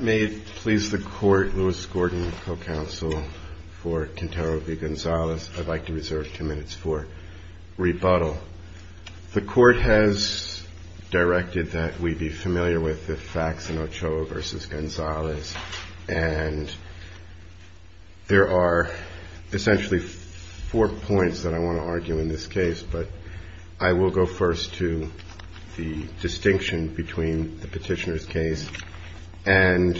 May it please the court, Lewis Gordon, co-counsel for Quintero v. Gonzalez, I'd like to reserve two minutes for rebuttal. The court has directed that we be familiar with the facts in Ochoa versus Gonzalez, and there are essentially four points that I want to argue in this case. But I will go first to the distinction between the petitioner's case. And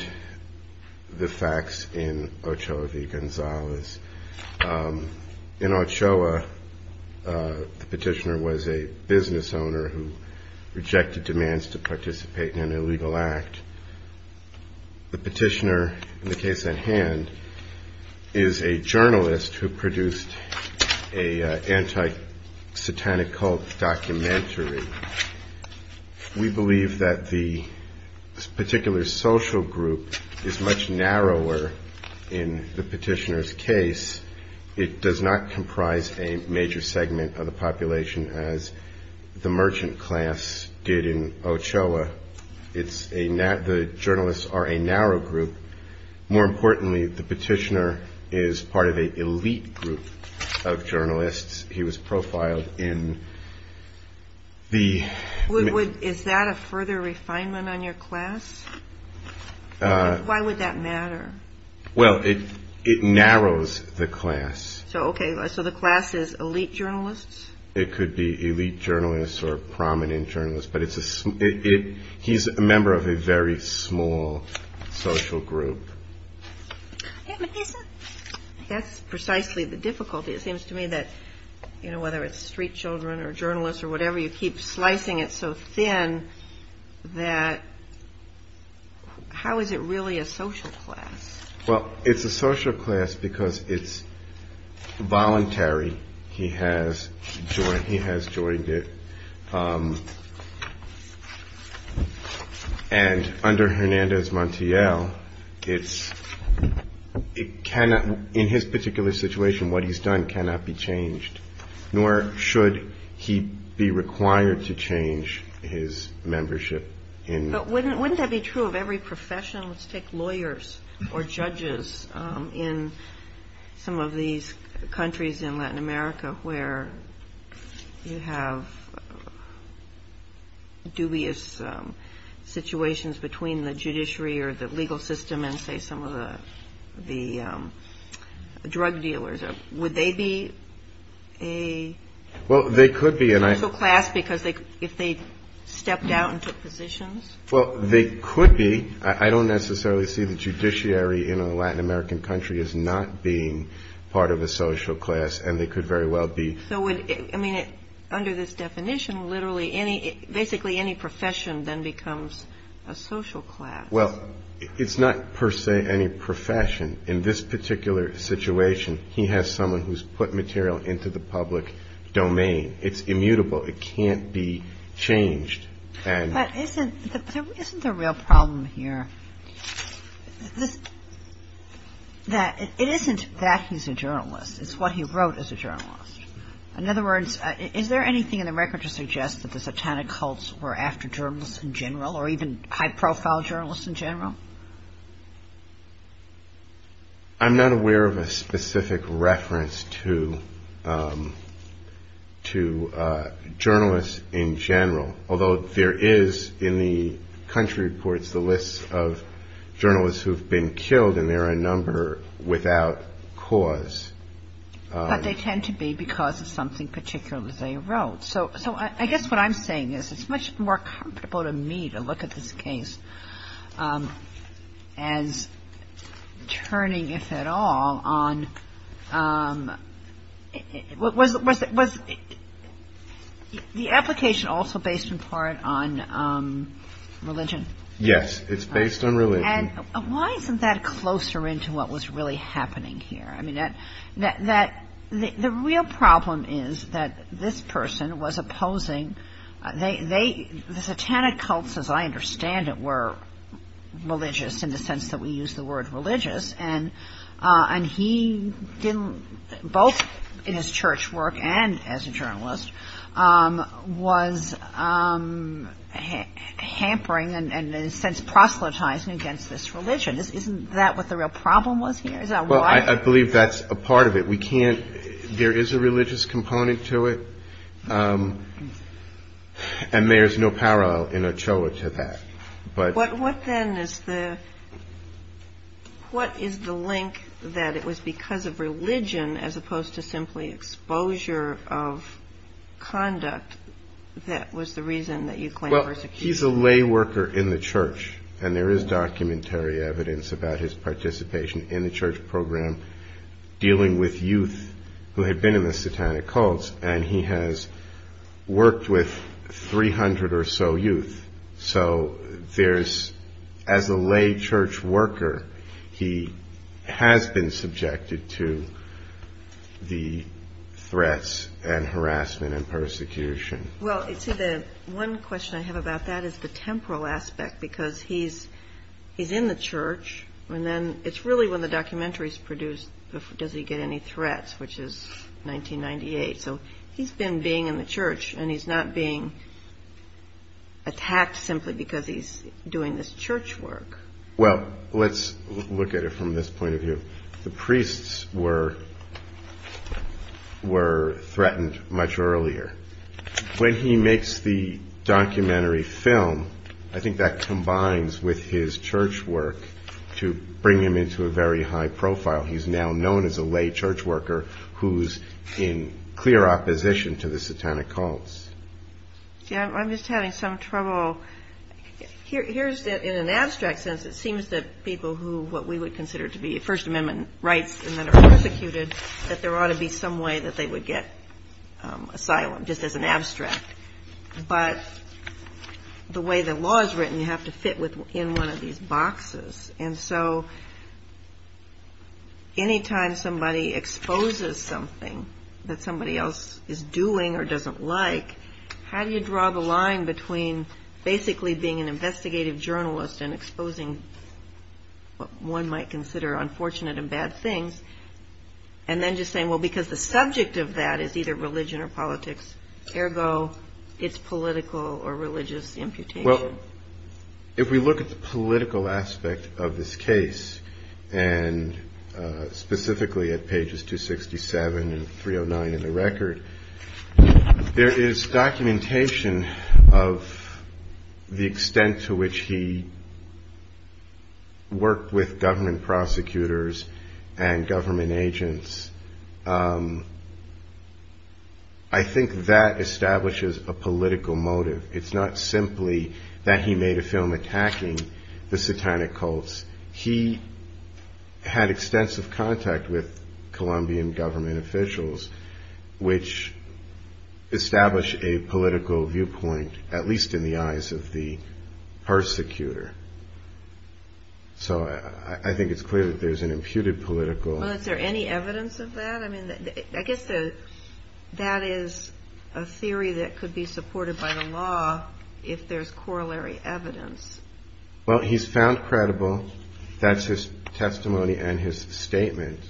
the facts in Ochoa v. Gonzalez. In Ochoa, the petitioner was a business owner who rejected demands to participate in an illegal act. The petitioner, in the case at hand, is a journalist who produced a anti-satanic cult documentary. We believe that the particular social group is much narrower in the petitioner's case. It does not comprise a major segment of the population as the merchant class did in Ochoa. The journalists are a narrow group. More importantly, the petitioner is part of an elite group of journalists. He was profiled in the... Is that a further refinement on your class? Why would that matter? Well, it narrows the class. So, okay, so the class is elite journalists? It could be elite journalists or prominent journalists, but he's a member of a very small social group. And that's precisely the difficulty. It seems to me that, you know, whether it's street children or journalists or whatever, you keep slicing it so thin that... How is it really a social class? Well, it's a social class because it's voluntary. He has joined it. And under Hernández Montiel, it's... It cannot... In his particular situation, what he's done cannot be changed, nor should he be required to change his membership in... But wouldn't that be true of every profession? Let's take lawyers or judges in some of these countries in Latin America where you have dubious situations between the judiciary or the legal system and, say, some of the drug dealers. Would they be a social class if they stepped out and took positions? Well, they could be. I don't necessarily see the judiciary in a Latin American country as not being part of a social class. And they could very well be. So would... I mean, under this definition, literally any... Basically, any profession then becomes a social class. Well, it's not per se any profession. In this particular situation, he has someone who's put material into the public domain. It's immutable. It can't be changed. And... But isn't... Isn't the real problem here? This... That... It isn't that he's a journalist. It's what he wrote as a journalist. In other words, is there anything in the record to suggest that the satanic cults were after journalists in general or even high-profile journalists in general? I'm not aware of a specific reference to journalists in general, although there is in the country reports the list of journalists who've been killed, and there are a number without cause. But they tend to be because of something particular they wrote. So I guess what I'm saying is it's much more comfortable to me to look at this case as turning, if at all, on... Was the application also based in part on religion? Yes, it's based on religion. Why isn't that closer into what was really happening here? The real problem is that this person was opposing... The satanic cults, as I understand it, were religious in the sense that we use the word religious, and he didn't... Both in his church work and as a journalist, was hampering and, in a sense, proselytizing against this religion. Isn't that what the real problem was here? Is that why? I believe that's a part of it. There is a religious component to it, and there's no parallel in Ochoa to that. What then is the link that it was because of religion as opposed to simply exposure of conduct that was the reason that you claim... He's a lay worker in the church, and there is documentary evidence about his participation in the church program dealing with youth who had been in the satanic cults, and he has worked with 300 or so youth. So there's... As a lay church worker, he has been subjected to the threats and harassment and persecution. Well, see, the one question I have about that is the temporal aspect because he's in the church, and then it's really when the documentary is produced, does he get any threats, which is 1998. So he's been being in the church, and he's not being attacked simply because he's doing this church work. Well, let's look at it from this point of view. The priests were threatened much earlier. When he makes the documentary film, I think that combines with his church work to bring him into a very high profile. He's now known as a lay church worker who's in clear opposition to the satanic cults. Yeah, I'm just having some trouble. Here's the... In an abstract sense, it seems that people who what we would consider to be First Amendment rights and then are persecuted, that there ought to be some way that they would get asylum just as an abstract. But the way the law is written, you have to fit in one of these boxes. And so anytime somebody exposes something that somebody else is doing or doesn't like, how do you draw the line between basically being an investigative journalist and exposing what one might consider unfortunate and bad things, and then just saying, well, because the subject of that is either religion or politics. Ergo, it's political or religious imputation. Well, if we look at the political aspect of this case, and specifically at pages 267 and 309 in the record, there is documentation of the extent to which he worked with government prosecutors and government agents. I think that establishes a political motive. It's not simply that he made a film attacking the satanic cults. He had extensive contact with Colombian government officials, which established a political viewpoint, at least in the eyes of the persecutor. So I think it's clear that there's an imputed political... Well, is there any evidence of that? I mean, I guess that is a theory that could be supported by the law if there's corollary evidence. Well, he's found credible. That's his testimony and his statement.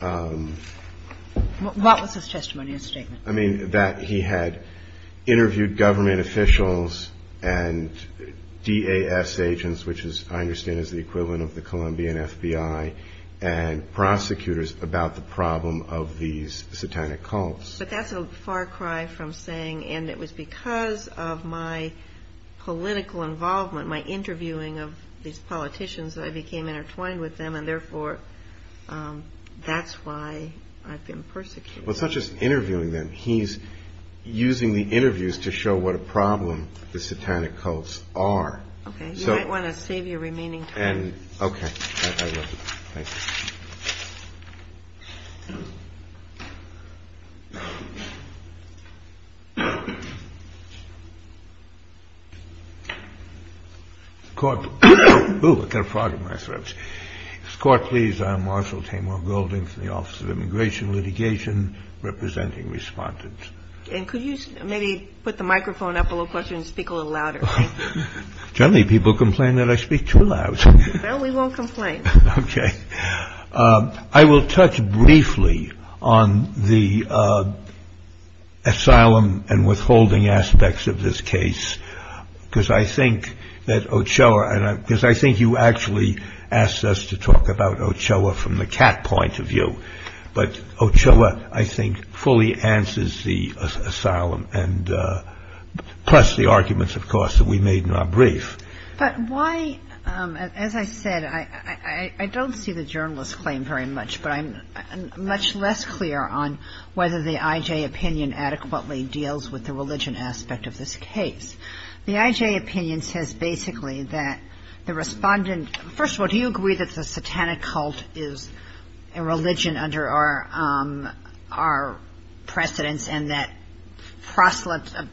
What was his testimony and statement? That he had interviewed government officials and DAS agents, which I understand is the equivalent of the Colombian FBI, and prosecutors about the problem of these satanic cults. But that's a far cry from saying, and it was because of my political involvement, my interviewing of these politicians, I became intertwined with them, and therefore that's why I've been persecuted. Well, it's not just interviewing them. He's using the interviews to show what a problem the satanic cults are. Okay. You might want to save your remaining time. And... Okay, I love it. Thank you. The court... Oh, I got a frog in my throat. The court, please. I'm Marshall Tamor Golding from the Office of Immigration Litigation, representing respondents. And could you maybe put the microphone up a little closer and speak a little louder? Generally, people complain that I speak too loud. Well, we won't complain. Okay. I will touch briefly on the asylum and withholding aspects of this case, because I think that asks us to talk about Ochoa from the cat point of view. But Ochoa, I think, fully answers the asylum, plus the arguments, of course, that we made in our brief. But why, as I said, I don't see the journalist's claim very much, but I'm much less clear on whether the IJ opinion adequately deals with the religion aspect of this case. The IJ opinion says basically that the respondent... First of all, do you agree that the satanic cult is a religion under our precedence and that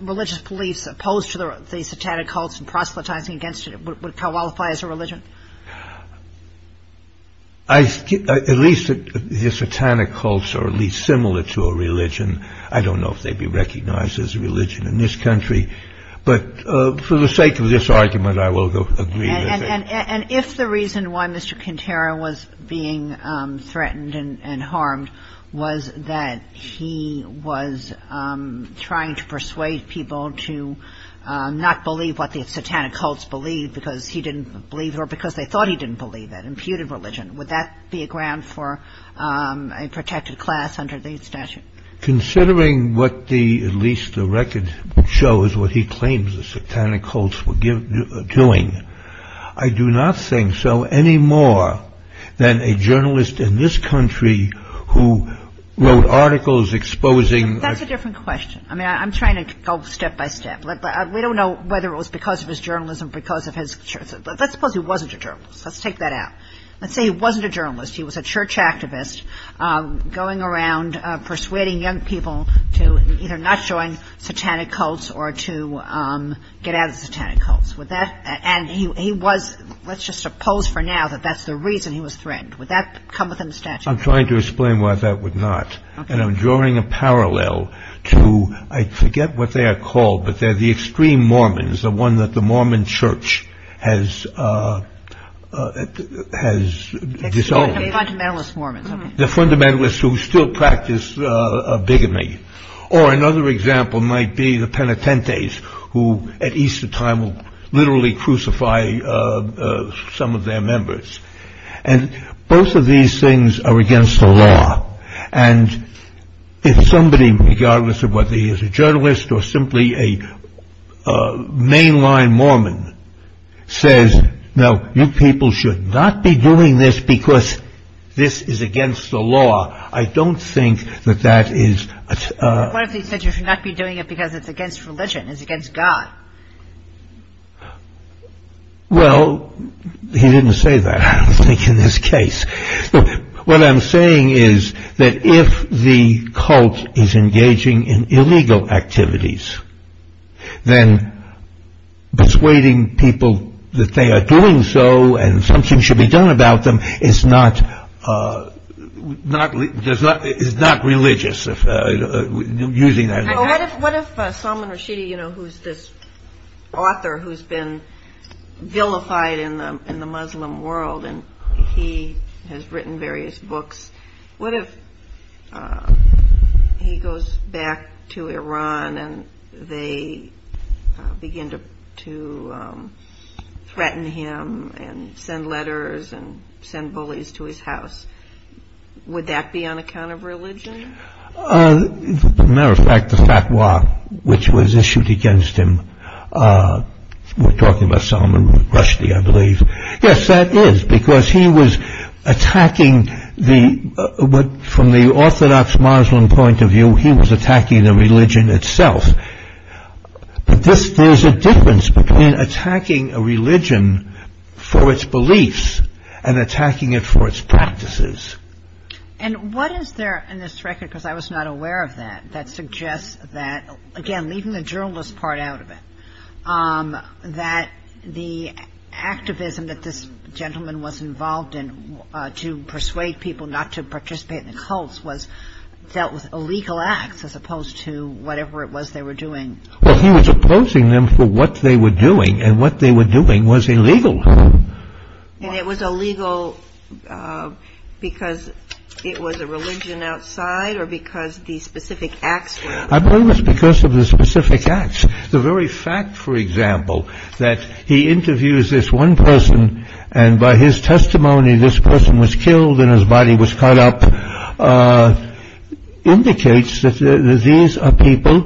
religious beliefs opposed to the satanic cults and proselytizing against it would qualify as a religion? At least the satanic cults are at least similar to a religion. I don't know if they'd be recognized as a religion in this country. But for the sake of this argument, I will agree with it. And if the reason why Mr. Quintero was being threatened and harmed was that he was trying to persuade people to not believe what the satanic cults believed because he didn't believe it or because they thought he didn't believe it, imputed religion, would that be a ground for a protected class under the statute? Considering what the, at least the record shows, what he claims the satanic cults were doing, I do not think so any more than a journalist in this country who wrote articles exposing... That's a different question. I mean, I'm trying to go step by step. We don't know whether it was because of his journalism, because of his... Let's suppose he wasn't a journalist. Let's take that out. Let's say he wasn't a journalist. He was a church activist going around persuading young people to either not join satanic cults or to get out of the satanic cults. Would that... And he was... Let's just suppose for now that that's the reason he was threatened. Would that come within the statute? I'm trying to explain why that would not. And I'm drawing a parallel to... I forget what they are called, but they're the extreme Mormons, the one that the Mormon church has disowned. The fundamentalist Mormons. The fundamentalists who still practice bigamy. Or another example might be the Penitentes, who at Easter time will literally crucify some of their members. And both of these things are against the law. And if somebody, regardless of whether he is a journalist or simply a mainline Mormon, says, no, you people should not be doing this because this is against the law. I don't think that that is... What if he said you should not be doing it because it's against religion, it's against God? Well, he didn't say that, I don't think, in this case. What I'm saying is that if the cult is engaging in illegal activities, then persuading people that they are doing so and something should be done about them is not religious, using that language. What if Salman Rushdie, who is this author who has been vilified in the Muslim world, and he has written various books, what if he goes back to Iran and they begin to threaten him and send letters and send bullies to his house? Would that be on account of religion? Matter of fact, the fatwa which was issued against him, we're talking about Salman Rushdie, I believe. Yes, that is because he was attacking the... From the orthodox Muslim point of view, he was attacking the religion itself. But there's a difference between attacking a religion for its beliefs and attacking it for its practices. And what is there in this record, because I was not aware of that, that suggests that, again, leaving the journalist part out of it, that the activism that this gentleman was involved in to persuade people not to participate in the cults was dealt with illegal acts as opposed to whatever it was they were doing. Well, he was opposing them for what they were doing, and what they were doing was illegal. And it was illegal because it was a religion outside or because the specific acts? I believe it's because of the specific acts. The very fact, for example, that he interviews this one person, and by his testimony, this person was killed and his body was cut up, indicates that these are people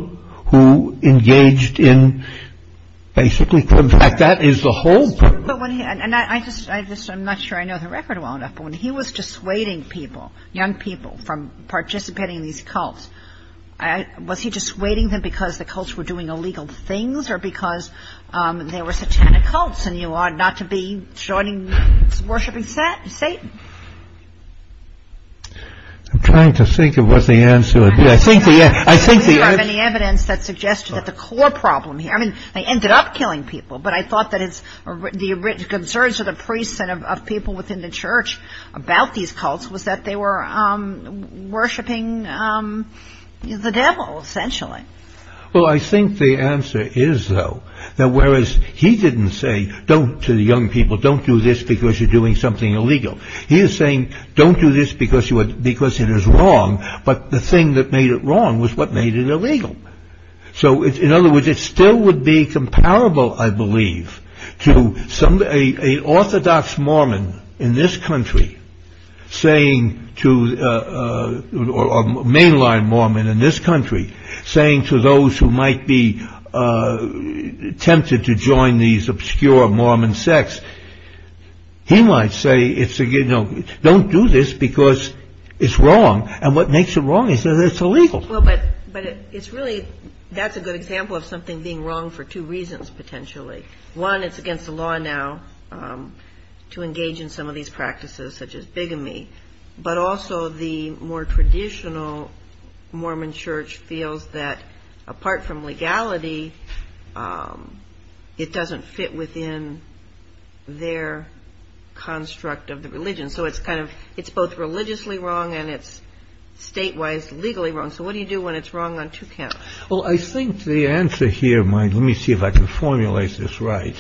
who engaged in basically... In fact, that is the whole... And I'm not sure I know the record well enough, but when he was dissuading people, young people, from participating in these cults, was he dissuading them because the cults were doing illegal things or because they were satanic cults and you ought not to be worshipping Satan? I'm trying to think of what the answer would be. I think the... I don't have any evidence that suggests that the core problem here... I mean, they ended up killing people, but I thought that the concerns of the priests and of people within the church about these cults was that they were worshipping the devil, essentially. Well, I think the answer is, though, that whereas he didn't say to the young people, don't do this because you're doing something illegal. He is saying, don't do this because it is wrong, but the thing that made it wrong was what made it illegal. So in other words, it still would be comparable, I believe, to a orthodox Mormon in this country saying to a mainline Mormon in this country, saying to those who might be tempted to join these obscure Mormon sects, he might say, don't do this because it's wrong. And what makes it wrong is that it's illegal. Well, but it's really, that's a good example of something being wrong for two reasons, potentially. One, it's against the law now to engage in some of these practices such as bigamy, but also the more traditional Mormon church feels that apart from legality, it doesn't fit within their construct of the religion. So it's kind of, it's both religiously wrong and it's state-wise legally wrong. So what do you do when it's wrong on two counts? Well, I think the answer here might, let me see if I can formulate this right.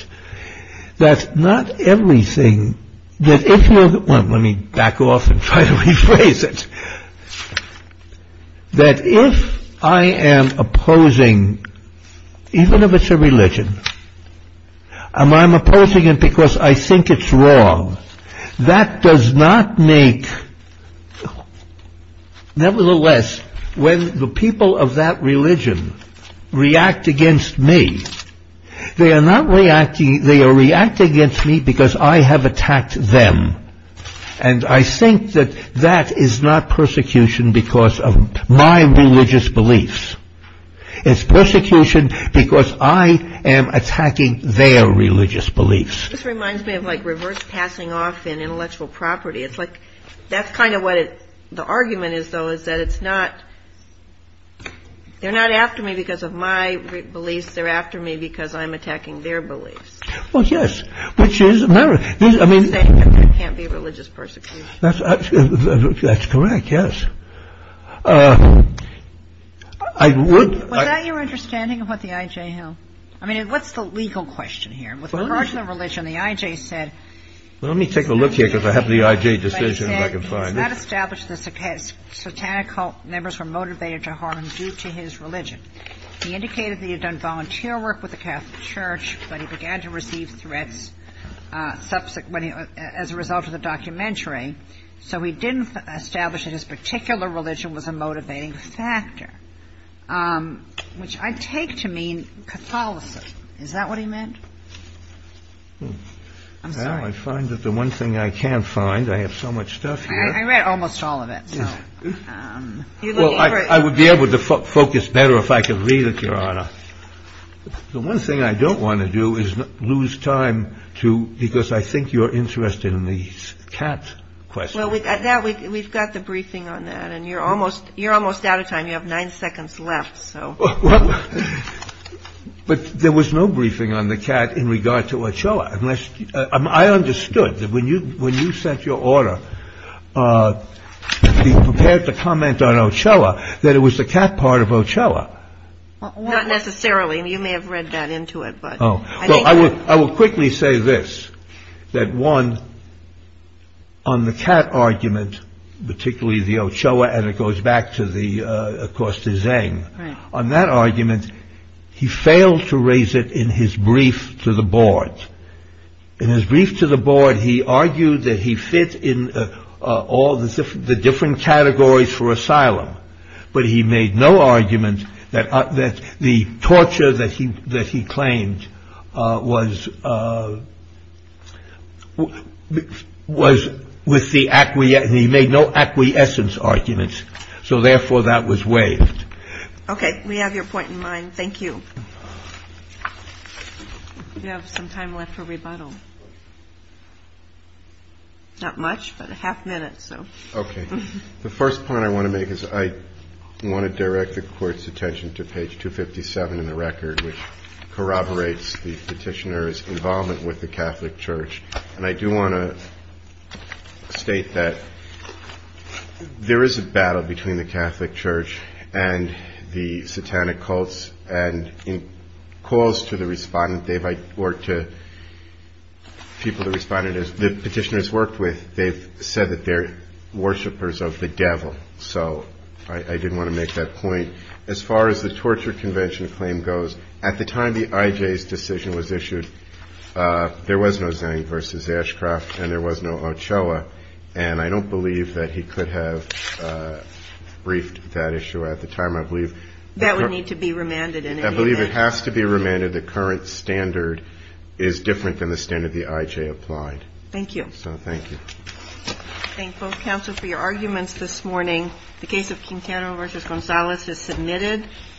That's not everything that, let me back off and try to rephrase it. That if I am opposing, even if it's a religion, I'm opposing it because I think it's wrong. That does not make, nevertheless, when the people of that religion react against me, they are not reacting, they are reacting against me because I have attacked them. And I think that that is not persecution because of my religious beliefs. It's persecution because I am attacking their religious beliefs. This reminds me of like reverse passing off in intellectual property. It's like, that's kind of what the argument is, though, is that it's not, they're not after me because of my beliefs. They're after me because I'm attacking their beliefs. Well, yes. Which is, I mean, it can't be religious persecution. That's correct. Yes, I would. Was that your understanding of what the IJ held? I mean, what's the legal question here? Well, let me take a look here because I have the IJ decision, if I can find it. He said he's not established the satanic cult members were motivated to harm him due to his religion. He indicated that he had done volunteer work with the Catholic Church, but he began to receive threats as a result of the documentary. So he didn't establish that his particular religion was a motivating factor, which I take to mean Catholicism. Is that what he meant? I'm sorry. Well, I find that the one thing I can't find, I have so much stuff here. I read almost all of it, so. Well, I would be able to focus better if I could read it, Your Honor. The one thing I don't want to do is lose time to, because I think you're interested in the cat question. Well, we've got the briefing on that, and you're almost out of time. You have nine seconds left, so. Well, but there was no briefing on the cat in regard to Ochoa. Unless, I understood that when you sent your order, you prepared to comment on Ochoa, that it was the cat part of Ochoa. Not necessarily. You may have read that into it, but. Oh, well, I will quickly say this. That one, on the cat argument, particularly the Ochoa, and it goes back to the, of course, to Zeng. On that argument, he failed to raise it in his brief to the board. In his brief to the board, he argued that he fit in all the different categories for asylum, but he made no argument that the torture that he claimed was, was with the, he made no acquiescence arguments. So, therefore, that was waived. Okay. We have your point in mind. Thank you. You have some time left for rebuttal. Not much, but a half minute, so. Okay. The first point I want to make is I want to direct the court's attention to page 257 in the record, which corroborates the petitioner's involvement with the Catholic Church. And I do want to state that there is a battle between the Catholic Church and the satanic cults. And in calls to the respondent, they might work to people, the respondent is, the petitioners worked with, they've said that they're worshipers of the devil. So I didn't want to make that point. As far as the torture convention claim goes, at the time the IJ's decision was issued, there was no Zhang versus Ashcroft and there was no Ochoa. And I don't believe that he could have briefed that issue at the time. I believe that would need to be remanded. And I believe it has to be remanded. The current standard is different than the standard the IJ applied. Thank you. So, thank you. Thank both counsel for your arguments this morning. The case of Quintana versus Gonzalez is submitted.